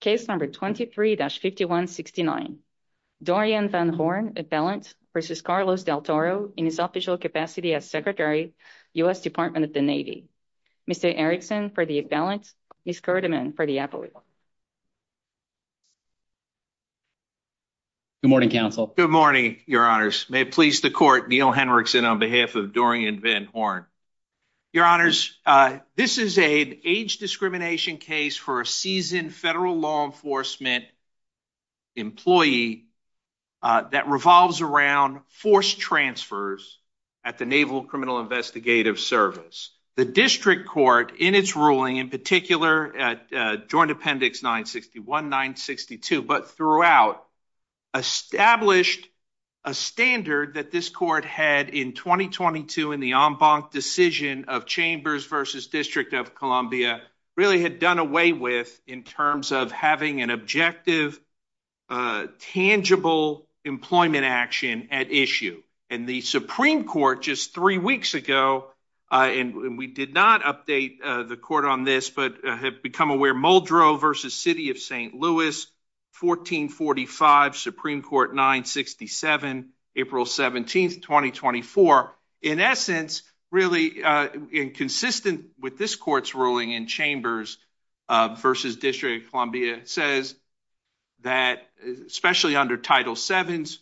Case number 23-5169, Dorian Van Horn appellant v. Carlos Del Toro in his official capacity as Secretary, U.S. Department of the Navy. Mr. Erickson for the appellant, Ms. Gerdeman for the appellate. Good morning, counsel. Good morning, your honors. May it please the court, Neil Henriksen on behalf of Dorian Van Horn. Your honors, this is an age discrimination case for a seasoned federal law enforcement employee that revolves around force transfers at the Naval Criminal Investigative Service. The district court in its ruling, in particular, at Joint Appendix 961-962, but throughout, established a standard that this court had in 2022 in the really had done away with in terms of having an objective, tangible employment action at issue. And the Supreme Court just three weeks ago, and we did not update the court on this, but have become aware, Muldrow v. City of St. Louis, 1445, Supreme Court 967, April 17, 2024. In essence, really, in consistent with this court's ruling in Chambers v. District of Columbia, says that, especially under Title VII's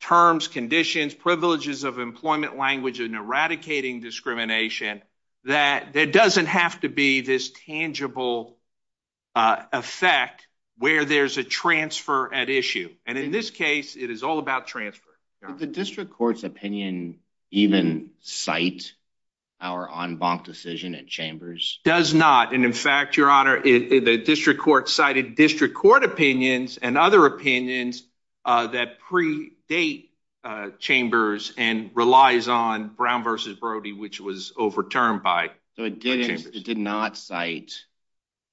terms, conditions, privileges of employment language and eradicating discrimination, that there doesn't have to be this tangible effect where there's a transfer at issue. And in this case, it is all about transfer. The district court's opinion even cite our en banc decision at Chambers? Does not. And in fact, Your Honor, the district court cited district court opinions and other opinions that predate Chambers and relies on Brown v. Brody, which was overturned by... So it did not cite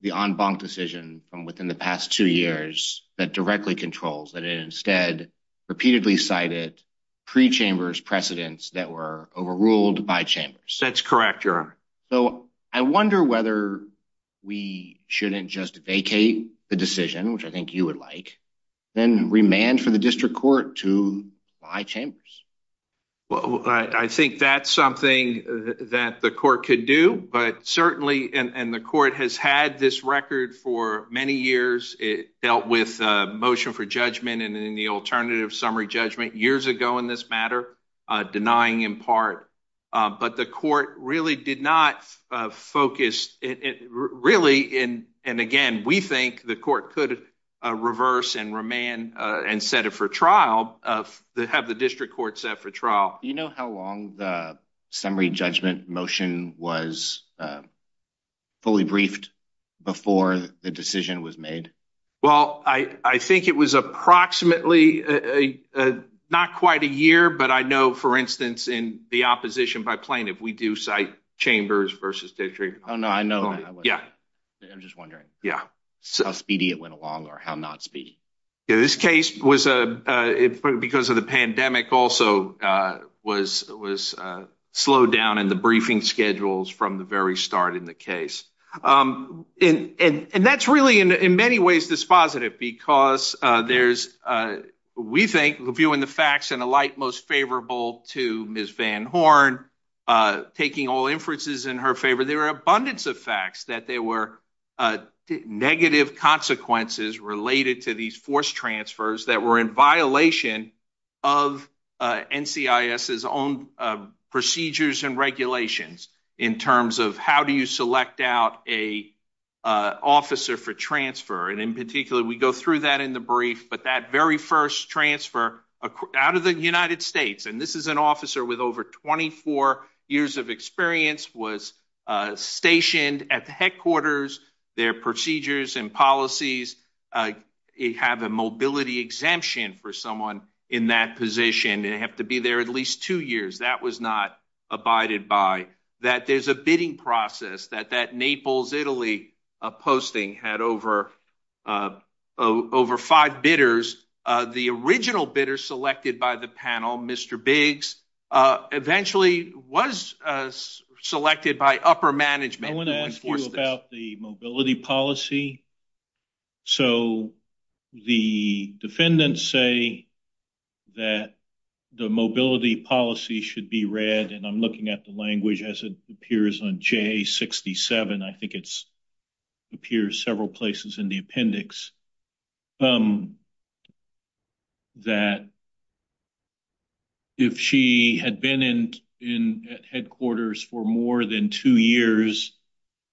the en banc decision from within the past two years that directly controls, that it instead repeatedly cited pre-Chambers precedents that were overruled by Chambers. That's correct, Your Honor. So, I wonder whether we shouldn't just vacate the decision, which I think you would like, then remand for the district court to buy Chambers? Well, I think that's something that the court could do, but certainly, and the court has had this record for many years. It dealt with a motion for judgment and in the alternative summary judgment years ago in this matter, denying in part. But the court really did not focus, really, and again, we think the court could reverse and remand and set it for trial, have the district court set for trial. Do you know how long the summary judgment motion was fully not quite a year, but I know, for instance, in the opposition by plaintiff, we do cite Chambers v. District Court. Oh, no, I know that. Yeah. I'm just wondering. Yeah. How speedy it went along or how not speedy. Yeah, this case was, because of the pandemic also, was slowed down in the briefing schedules from the very start in the case. And that's really, in many ways, dispositive because there's, we think, viewing the facts in a light most favorable to Ms. Van Horn taking all inferences in her favor. There are abundance of facts that there were negative consequences related to these forced transfers that were in violation of NCIS's own procedures and regulations in terms of how do you select out a officer for transfer? And in particular, we go through that in the brief. But that very first transfer out of the United States, and this is an officer with over 24 years of experience, was stationed at the headquarters. Their procedures and policies, uh, have a mobility exemption for someone in that position. They have to be there at least two years. That was not abided by that. There's a bidding process that that Naples Italy posting had over, uh, over five bidders. The original bidder selected by the panel, Mr Biggs, uh, eventually was, uh, selected by upper management. I want to ask you about the mobility policy. So the defendants say that the mobility policy should be read, and I'm looking at the language as it appears on J67. I think it's appears several places in the appendix, um, that if she had been in in headquarters for more than two years,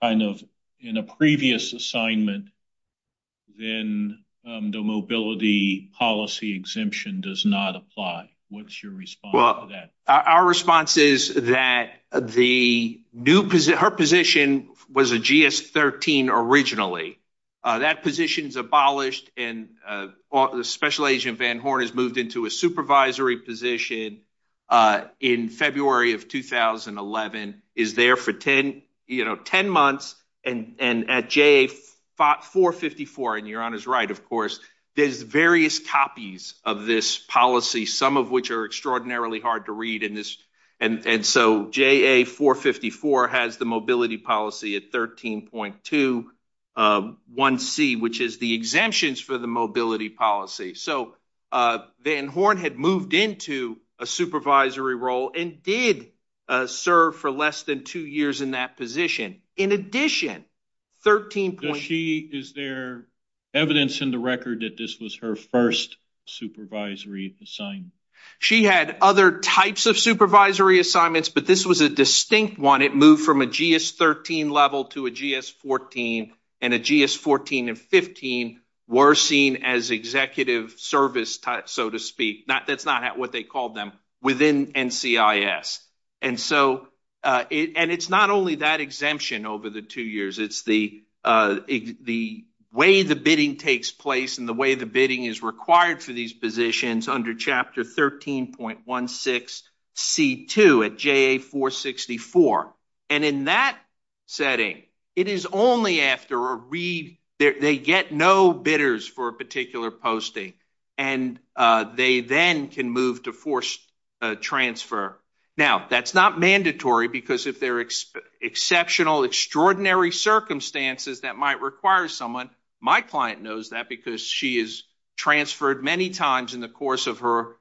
kind of in a previous assignment, then the mobility policy exemption does not apply. What's your response to that? Our response is that the new her position was a GS 13. Originally, that position is abolished, and, uh, special agent Van Horn has moved into a supervisory position. Uh, in February of 2000 and 11 is there for 10, you know, 10 months and at J fought 4 54. And you're on his right. Of course, there's various copies of this policy, some of which are extraordinarily hard to read in this. And so J A 4 54 has the mobility policy at 13.21 C, which is the exemptions for the mobility policy. So, uh, Van Horn had moved into a supervisory role and did serve for less than two years in that position. In addition, 13. She is there evidence in the record that this was her first supervisory assignment. She had other types of supervisory assignments, but this was a distinct one. It moved from a GS 13 level to a GS 14 and a GS 14 and 15 were seen as executive service, so to speak. That's not what they called them within and C I s. And so, uh, and it's not only that exemption over the two years. It's the, uh, the way the bidding takes place in the way the bidding is required for these positions under Chapter 13.16 C two at J A 4 64. And in that setting, it is only after a they get no bidders for a particular posting, and they then can move to force transfer. Now that's not mandatory, because if they're exceptional, extraordinary circumstances that might require someone, my client knows that because she is transferred many times in the course of her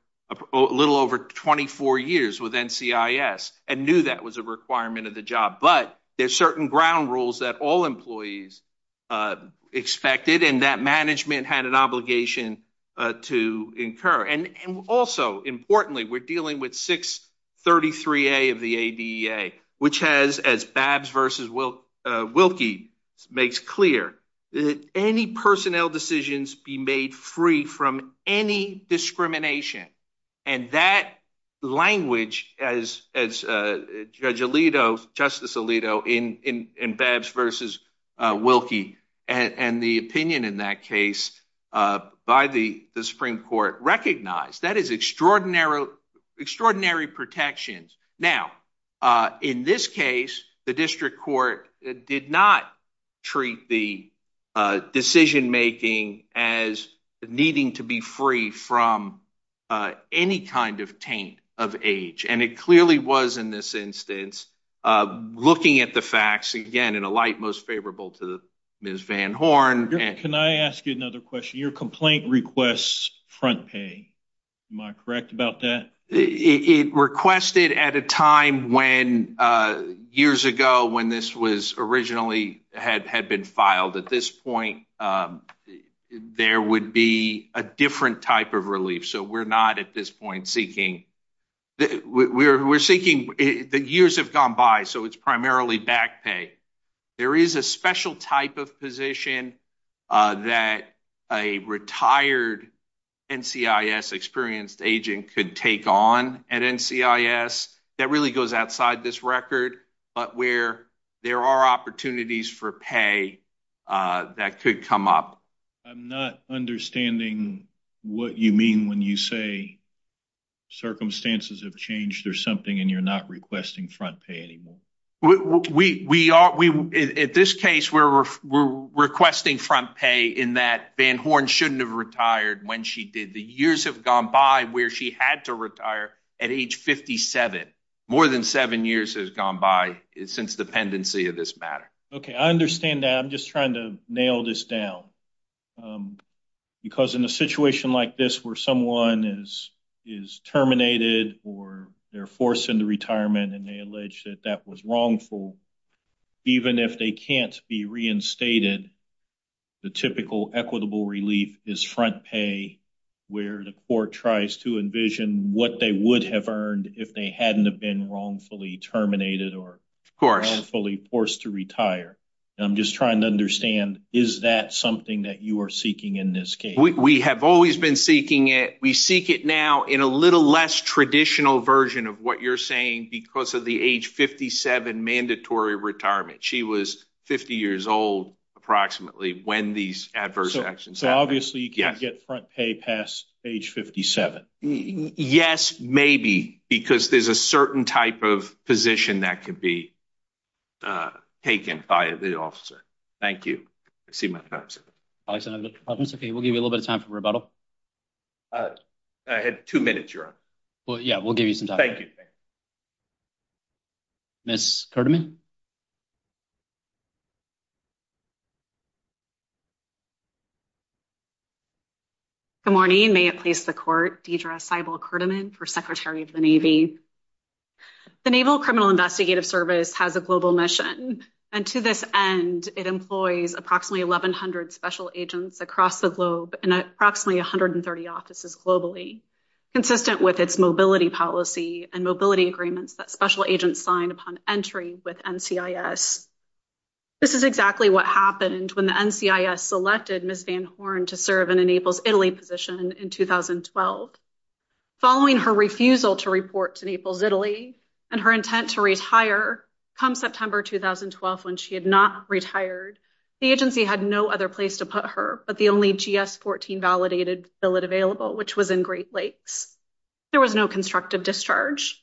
a little over 24 years with NCIS and knew that was a requirement of the job. But there's certain ground rules that all employees, uh, expected, and that management had an obligation to incur. And also, importantly, we're dealing with 6 33 A of the A. D. A. Which has as Babs versus will Wilkie makes clear that any personnel decisions be made free from any discrimination. And that in in Babs versus Wilkie and the opinion in that case by the Supreme Court recognized that is extraordinary, extraordinary protections. Now, uh, in this case, the district court did not treat the decision making as needing to be free from, uh, any kind of taint of age. And it clearly was in this facts again in a light most favorable to the Miss Van Horn. Can I ask you another question? Your complaint requests front pay. Am I correct about that? It requested at a time when, uh, years ago, when this was originally had had been filed at this point, um, there would be a different type of relief. So we're not at this point seeking. We're seeking. The years have gone by, so it's merrily back pay. There is a special type of position that a retired N. C. I. S. Experienced agent could take on at N. C. I. S. That really goes outside this record. But where there are opportunities for pay, uh, that could come up. I'm not understanding what you mean when you say circumstances have we? We are. We at this case, we're requesting front pay in that Van Horn shouldn't have retired when she did. The years have gone by where she had to retire at age 57. More than seven years has gone by since dependency of this matter. Okay, I understand that. I'm just trying to nail this down. Um, because in a situation like this, where someone is is terminated or they're forced into retirement and they alleged that that was wrongful, even if they can't be reinstated, the typical equitable relief is front pay, where the court tries to envision what they would have earned if they hadn't have been wrongfully terminated or, of course, fully forced to retire. I'm just trying to understand. Is that something that you are seeking in this case? We have always been seeking it. We seek it now in a little less traditional version of what you're saying because of the age 57 mandatory retirement. She was 50 years old, approximately when these adverse actions. Obviously, you can't get front pay past age 57. Yes, maybe because there's a certain type of position that could be, uh, taken by the officer. Thank you. I see my thoughts. Okay, we'll give you a little bit of time for rebuttal. Uh, I had two minutes. You're on. Well, yeah, we'll give you some time. Thank you. Miss Kerman. Good morning. May it please the court. Deidre Seibel Kerman for secretary of the Navy. The Naval Criminal Investigative Service has a global mission, and to this end, it employs approximately 1100 special agents across the globe and approximately 130 offices globally, consistent with its mobility policy and mobility agreements that special agents signed upon entry with N. C. I. S. This is exactly what happened when the N. C. I. S. Selected Miss Van Horn to serve in enables Italy position in 2012. Following her refusal to report to Naples, Italy and her intent to retire come September 2012 when she had not retired, the agency had no other place to put her. But the only G. S. 14 validated fill it available, which was in Great Lakes. There was no constructive discharge.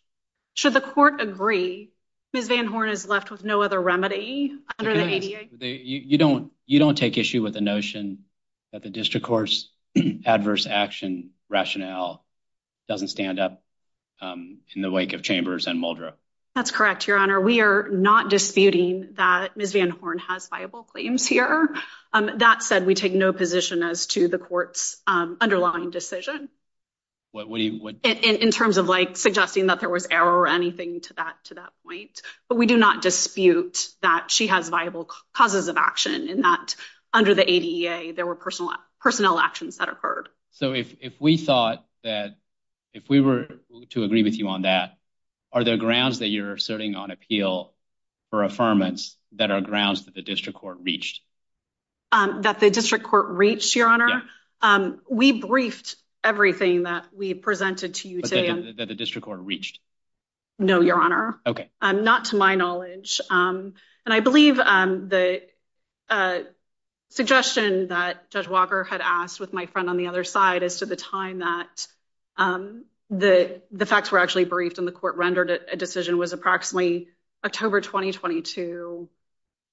Should the court agree? Miss Van Horn is left with no other remedy. You don't. You don't take issue with the notion that the district courts adverse action rationale doesn't stand up in the wake of chambers and Muldrow. That's correct, Your Honor. We're not disputing that Miss Van Horn has viable claims here. That said, we take no position as to the court's underlying decision. What would you would in terms of like suggesting that there was error or anything to that to that point. But we do not dispute that she has viable causes of action in that under the A. D. A. There were personal personnel actions that occurred. So if if we thought that if we were to agree with you on that, are there grounds that you're asserting on appeal for affirmance that our grounds that the we briefed everything that we presented to you today that the district court reached? No, Your Honor. Okay. I'm not to my knowledge. Um, and I believe, um, the, uh, suggestion that Judge Walker had asked with my friend on the other side as to the time that, um, the facts were actually briefed in the court, rendered a decision was approximately October 2022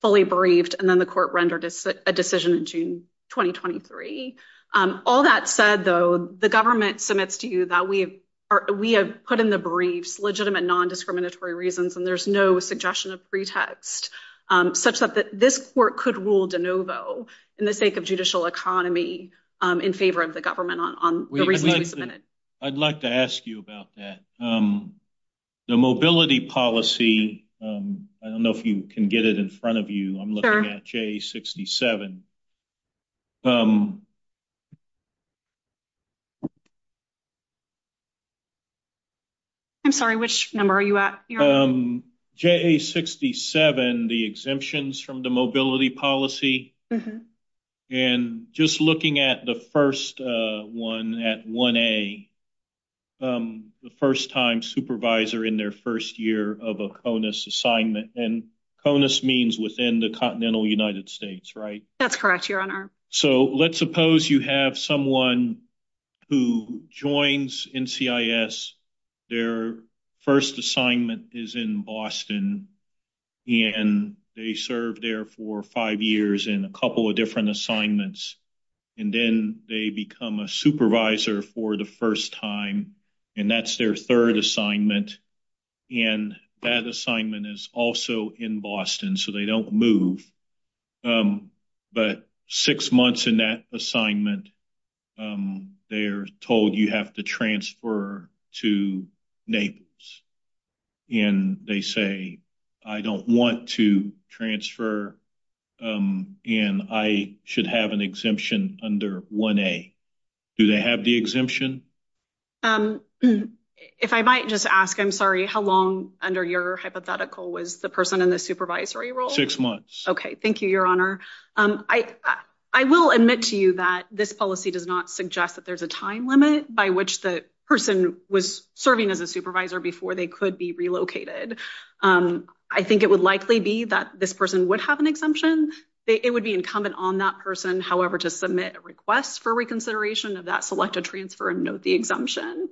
fully briefed, and then the court rendered a decision in June 2023. Um, all that said, though, the government submits to you that we are. We have put in the briefs legitimate, non discriminatory reasons, and there's no suggestion of pretext, um, such that this court could rule de novo in the sake of judicial economy in favor of the government on the reason we submitted. I'd like to ask you about that. Um, the mobility policy. Um, I don't know if you can get it in front of you. I'm looking at J 67. Um, I'm sorry. Which number are you at? Um, J 67. The exemptions from the mobility policy and just looking at the first one at one a, um, the first time supervisor in their first year of a conus assignment and conus means within the continental United States, right? That's correct, Your Honor. So let's suppose you have someone who joins in C. I. S. Their first assignment is in Boston, and they served there for five years in a couple of different assignments, and then they become a supervisor for the first time, and that's their third assignment. And that assignment is also in Boston, so they don't move. Um, but six months in that assignment, um, they're told you have to transfer to neighbors, and they say, I don't want to transfer. Um, and I should have an exemption under one A. Do they have the exemption? Um, if I might just ask, I'm sorry. How long under your hypothetical was the person in the supervisory role? Six months. Okay, thank you, Your Honor. Um, I I will admit to you that this policy does not suggest that there's a time limit by which the person was serving as a supervisor before they could be relocated. Um, I think it would likely be that this person would have an on that person, however, to submit a request for reconsideration of that selected transfer and note the exemption.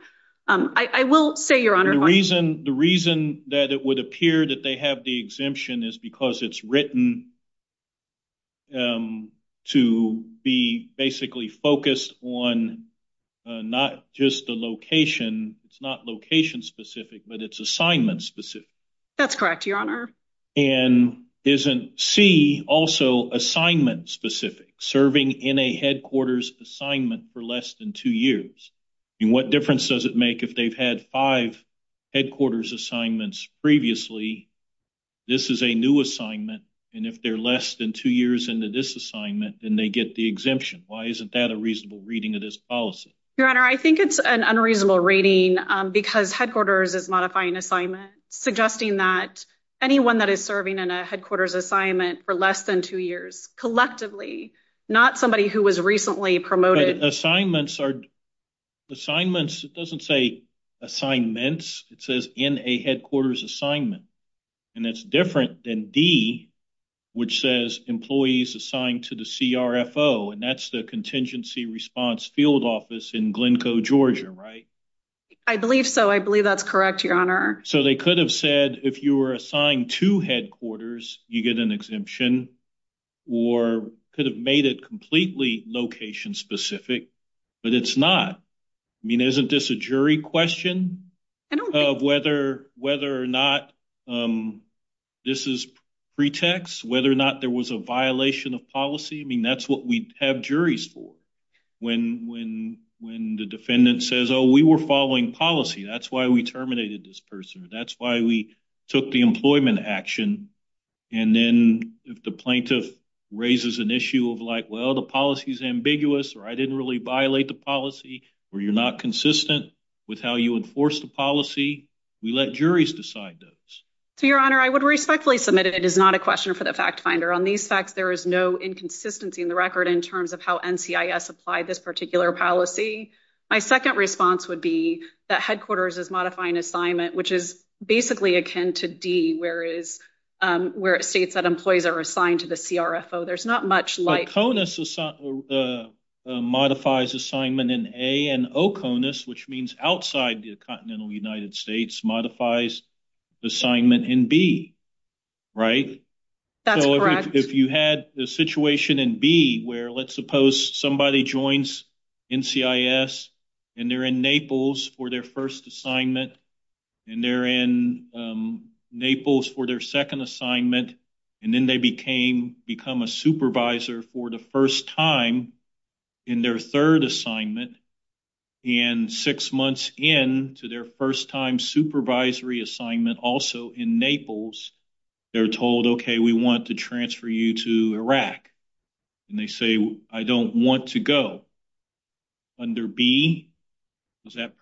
Um, I will say, Your Honor, the reason the reason that it would appear that they have the exemption is because it's written, um, to be basically focused on not just the location. It's not location specific, but it's assignment specific. That's specific, serving in a headquarters assignment for less than two years. And what difference does it make if they've had five headquarters assignments previously? This is a new assignment, and if they're less than two years into this assignment, then they get the exemption. Why isn't that a reasonable reading of this policy? Your Honor, I think it's an unreasonable rating because headquarters is modifying assignment, suggesting that anyone that is serving in a headquarters assignment for less than two years collectively, not somebody who was recently promoted assignments are assignments. It doesn't say assignments. It says in a headquarters assignment, and it's different than D, which says employees assigned to the CRFO. And that's the contingency response field office in Glencoe, Georgia, right? I believe so. I believe that's correct, Your Honor. So they could have said if you were assigned to headquarters, you get an exemption, or could have made it completely location specific, but it's not. I mean, isn't this a jury question of whether or not this is pretext, whether or not there was a violation of policy? I mean, that's what we have juries for. When the defendant says, oh, we were following policy. That's why we terminated this person. That's why we took the employment action. And then if the plaintiff raises an issue of like, well, the policy is ambiguous or I didn't really violate the policy where you're not consistent with how you enforce the policy, we let juries decide those. So, Your Honor, I would respectfully submitted. It is not a question for the fact finder on these facts. There is no inconsistency in the record in terms of how NCIS apply this particular policy. My second response would be that headquarters is modifying assignment, which is basically akin to D, where it states that employees are assigned to the CRFO. There's not much like... CONUS modifies assignment in A, and OCONUS, which means outside the continental United States, modifies assignment in B, right? That's correct. If you had the situation in B, where let's suppose somebody joins NCIS and they're in Naples for their first assignment, and they're in Naples for their second assignment, and then they became become a supervisor for the first time in their third assignment, and six months in to their first time supervisory assignment also in Naples, they're told, okay, we want to transfer you to Iraq. And they say, I don't want to go. Under B, does that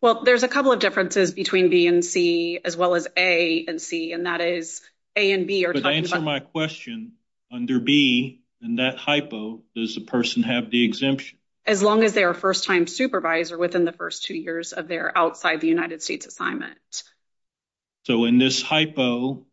Well, there's a couple of differences between B and C, as well as A and C, and that is A and B are talking about... But to answer my question, under B, in that hypo, does the person have the exemption? As long as they are first-time supervisor within the first two years of their outside the United States assignment. So in this hypo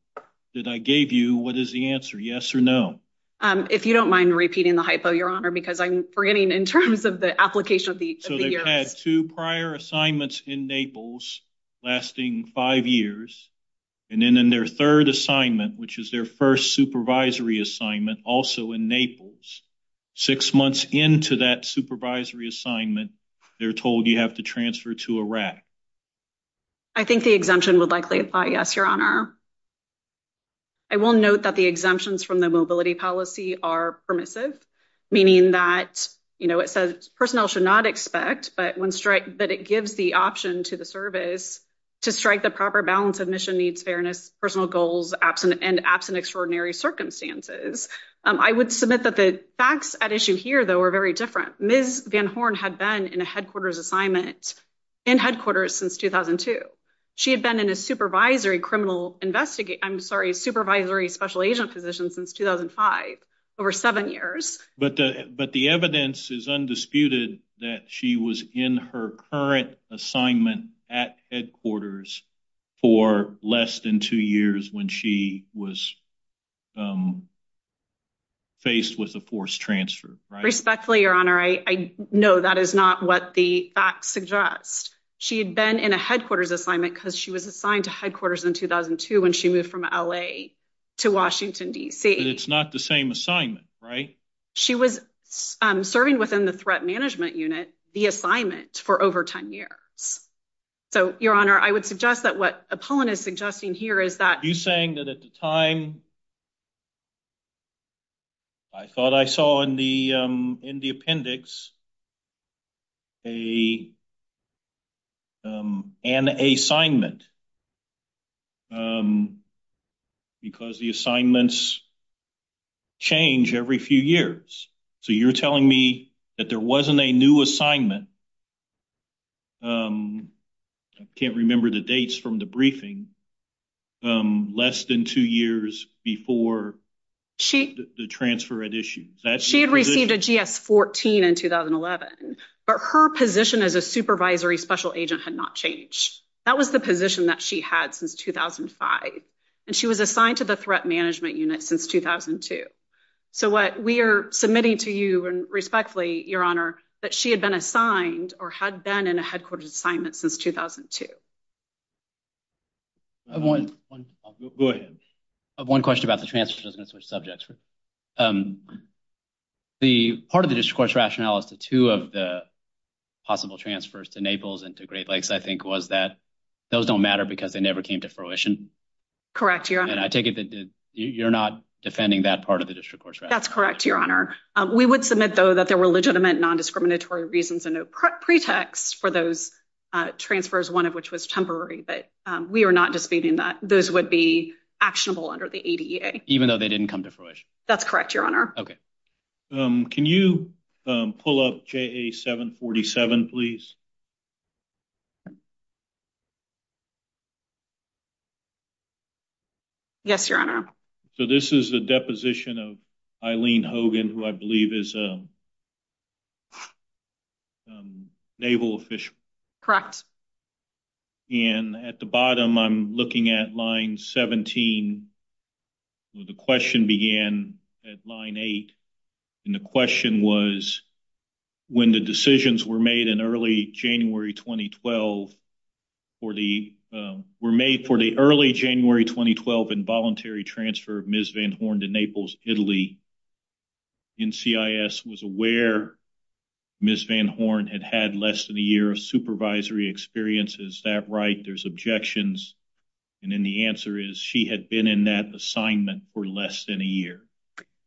that I gave you, what is the answer, yes or no? If you don't mind repeating the hypo, Your Honor, because I'm forgetting in terms of the application So they've had two prior assignments in Naples lasting five years, and then in their third assignment, which is their first supervisory assignment also in Naples, six months into that supervisory assignment, they're told you have to transfer to Iraq. I think the exemption would likely apply, yes, Your Honor. I will note that the exemptions from the mobility policy are permissive, meaning that, you know, it says personnel should not expect, but when strike, but it gives the option to the service to strike the proper balance of mission, needs, fairness, personal goals, and absent extraordinary circumstances. I would submit that the facts at issue here, though, are very different. Ms. Van Horn had been in a headquarters assignment in headquarters since 2002. She had been in a supervisory criminal investigate... I'm sorry, supervisory special agent position since 2005, over seven years. But the evidence is undisputed that she was in her current assignment at headquarters for less than two years when she was faced with a forced transfer. Respectfully, Your Honor, I know that is not what the facts suggest. She had been in a headquarters assignment because she was assigned to headquarters in 2002 when she moved from L.A. to Washington, D.C. It's not the same assignment, right? She was serving within the Threat Management Unit, the assignment, for over 10 years. So, Your Honor, I would suggest that what Apollon is suggesting here is that... You're saying that at the point, because the assignments change every few years. So, you're telling me that there wasn't a new assignment... I can't remember the dates from the briefing... less than two years before the transfer at issue. She had received a GS-14 in 2011, but her position as a supervisory special agent had not changed. That was the position that she had since 2005, and she was assigned to the Threat Management Unit since 2002. So, what we are submitting to you, and respectfully, Your Honor, that she had been assigned or had been in a headquarters assignment since 2002. Go ahead. I have one question about the transfer. I was going to switch subjects. The part of the district court's rationale as to two of the possible transfers to Naples and to Great Lakes, I think, was that those don't matter because they never came to fruition. Correct, Your Honor. I take it that you're not defending that part of the district court's rationale. That's correct, Your Honor. We would submit, though, that there were legitimate non-discriminatory reasons and no pretext for those transfers, one of which was temporary, but we are not disputing that those would be actionable under the ADA. Even though they didn't come to fruition? That's correct, Your Honor. Okay. Can you pull up JA 747, please? Yes, Your Honor. So, this is a deposition of Eileen Hogan, who I believe is a naval official. Correct. And at the bottom, I'm looking at line 17, where the question began at line 8. And the question was, when the decisions were made in early January 2012, were made for the early January 2012 involuntary transfer of Ms. Van Horn to Naples, Italy, NCIS was aware Ms. Van Horn had had less than a year of supervisory experience. Is that right? There's objections. And then the answer is she had been in that assignment for less than a year.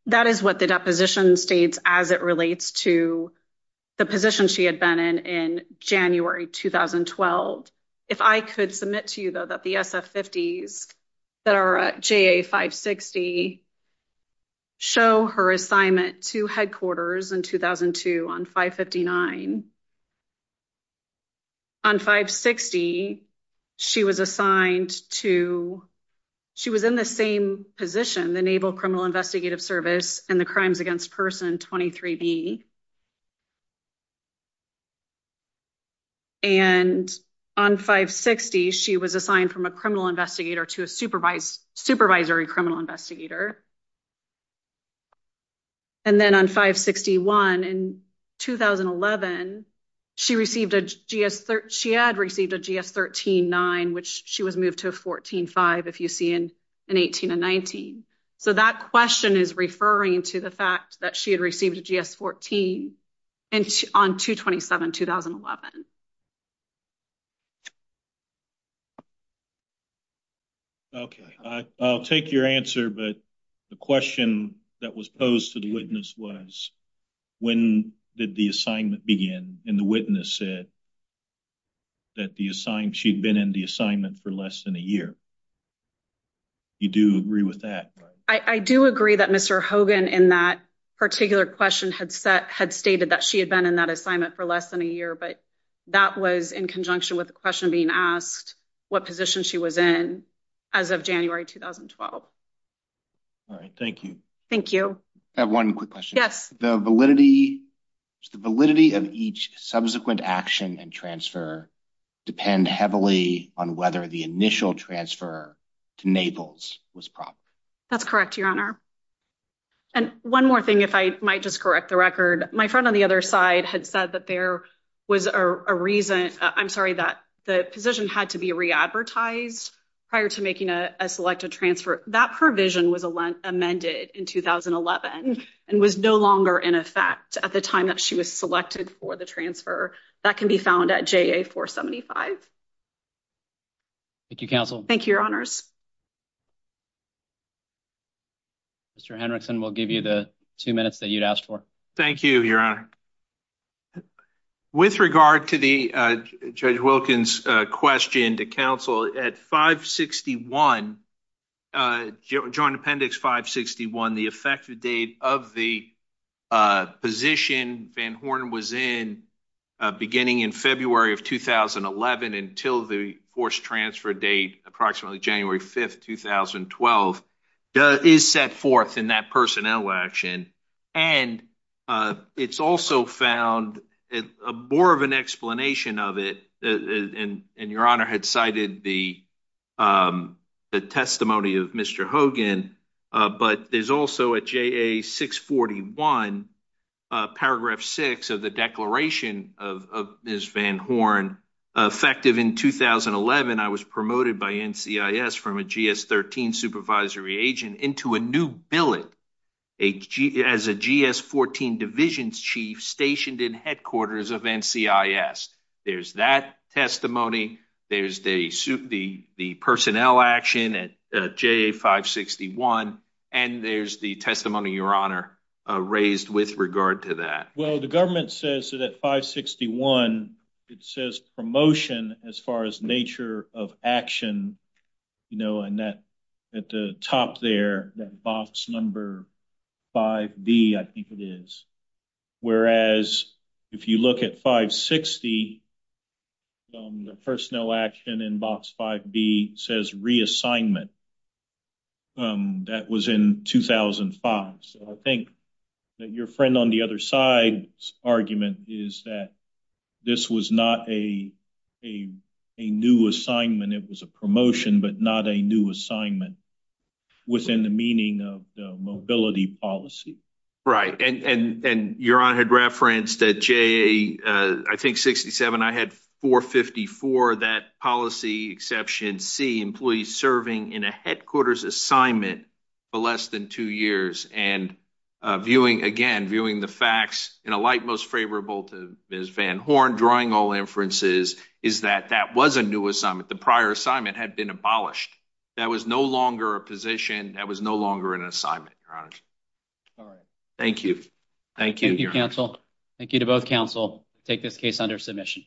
That is what the deposition states as it relates to the position she had been in in January 2012. If I could submit to you, though, that the SF-50s that are at JA 560 show her 2002 on 559. On 560, she was assigned to, she was in the same position, the Naval Criminal Investigative Service and the Crimes Against Persons 23B. And on 560, she was assigned from a criminal investigator to a supervisory criminal investigator. And then on 561, in 2011, she had received a GS-13-9, which she was moved to a 14-5, if you see in 18 and 19. So that question is referring to the fact that she had received a GS-14 on 227, 2011. Okay, I'll take your answer. But the question that was posed to the witness was, when did the assignment begin? And the witness said that she'd been in the assignment for less than a year. You do agree with that? I do agree that Mr. Hogan, in that particular question, had stated that she had been in that assignment for less than a year. But that was in conjunction with the question being asked, what position she was in as of January 2012. All right, thank you. Thank you. I have one quick question. Yes. The validity of each subsequent action and transfer depend heavily on whether the initial transfer to Naples was proper. That's correct, Your Honor. And one more thing, if I might just correct the record, my friend on the other side had said that there was a reason, I'm sorry, that the position had to be re-advertised prior to making a selected transfer. That provision was amended in 2011 and was no longer in effect at the time that she was selected for the transfer. That can be found at JA-475. Thank you, counsel. Thank you, Your Honors. Mr. Hendrickson, we'll give you the two minutes that you'd asked for. Thank you, Your Honor. With regard to the Judge Wilkins' question to counsel, at 561, Joint Appendix 561, the effective date of the position Van Horn was in, beginning in February of 2011 until the forced transfer date, approximately January 5th, 2012, is set forth in that personnel action. And it's also found more of an explanation of it, and Your Honor had cited the testimony of Mr. Hogan, but there's also at JA-641, paragraph 6 of the declaration of Ms. Van Horn, effective in 2011, I was promoted by NCIS from a GS-13 supervisory agent into a new billet as a GS-14 divisions chief stationed in headquarters of NCIS. There's that testimony, there's the personnel action at JA-561, and there's the testimony, Your Honor, raised with regard to that. Well, the government says that at 561, it says promotion as far as nature of action, you know, and that at the top there, that box number 5B, I think it is. Whereas, if you look at 560, the personnel action in box 5B says reassignment. That was in 2005. So, I think that your friend on the other side's argument is that this was not a new assignment, it was a promotion, but not a new assignment within the meaning of the mobility policy. Right, and Your Honor had referenced that JA, I think 67, I had 454, that policy exception C, employees serving in a headquarters assignment for less than two years, and viewing, again, viewing the facts in a light most favorable to Ms. Van Horn, drawing all inferences, is that that was a new assignment. The prior assignment had been abolished. That was no longer a position, that was no longer an assignment, Your Honor. All right. Thank you. Thank you, Your Honor. Thank you, counsel. Thank you to both counsel. Take this case under submission.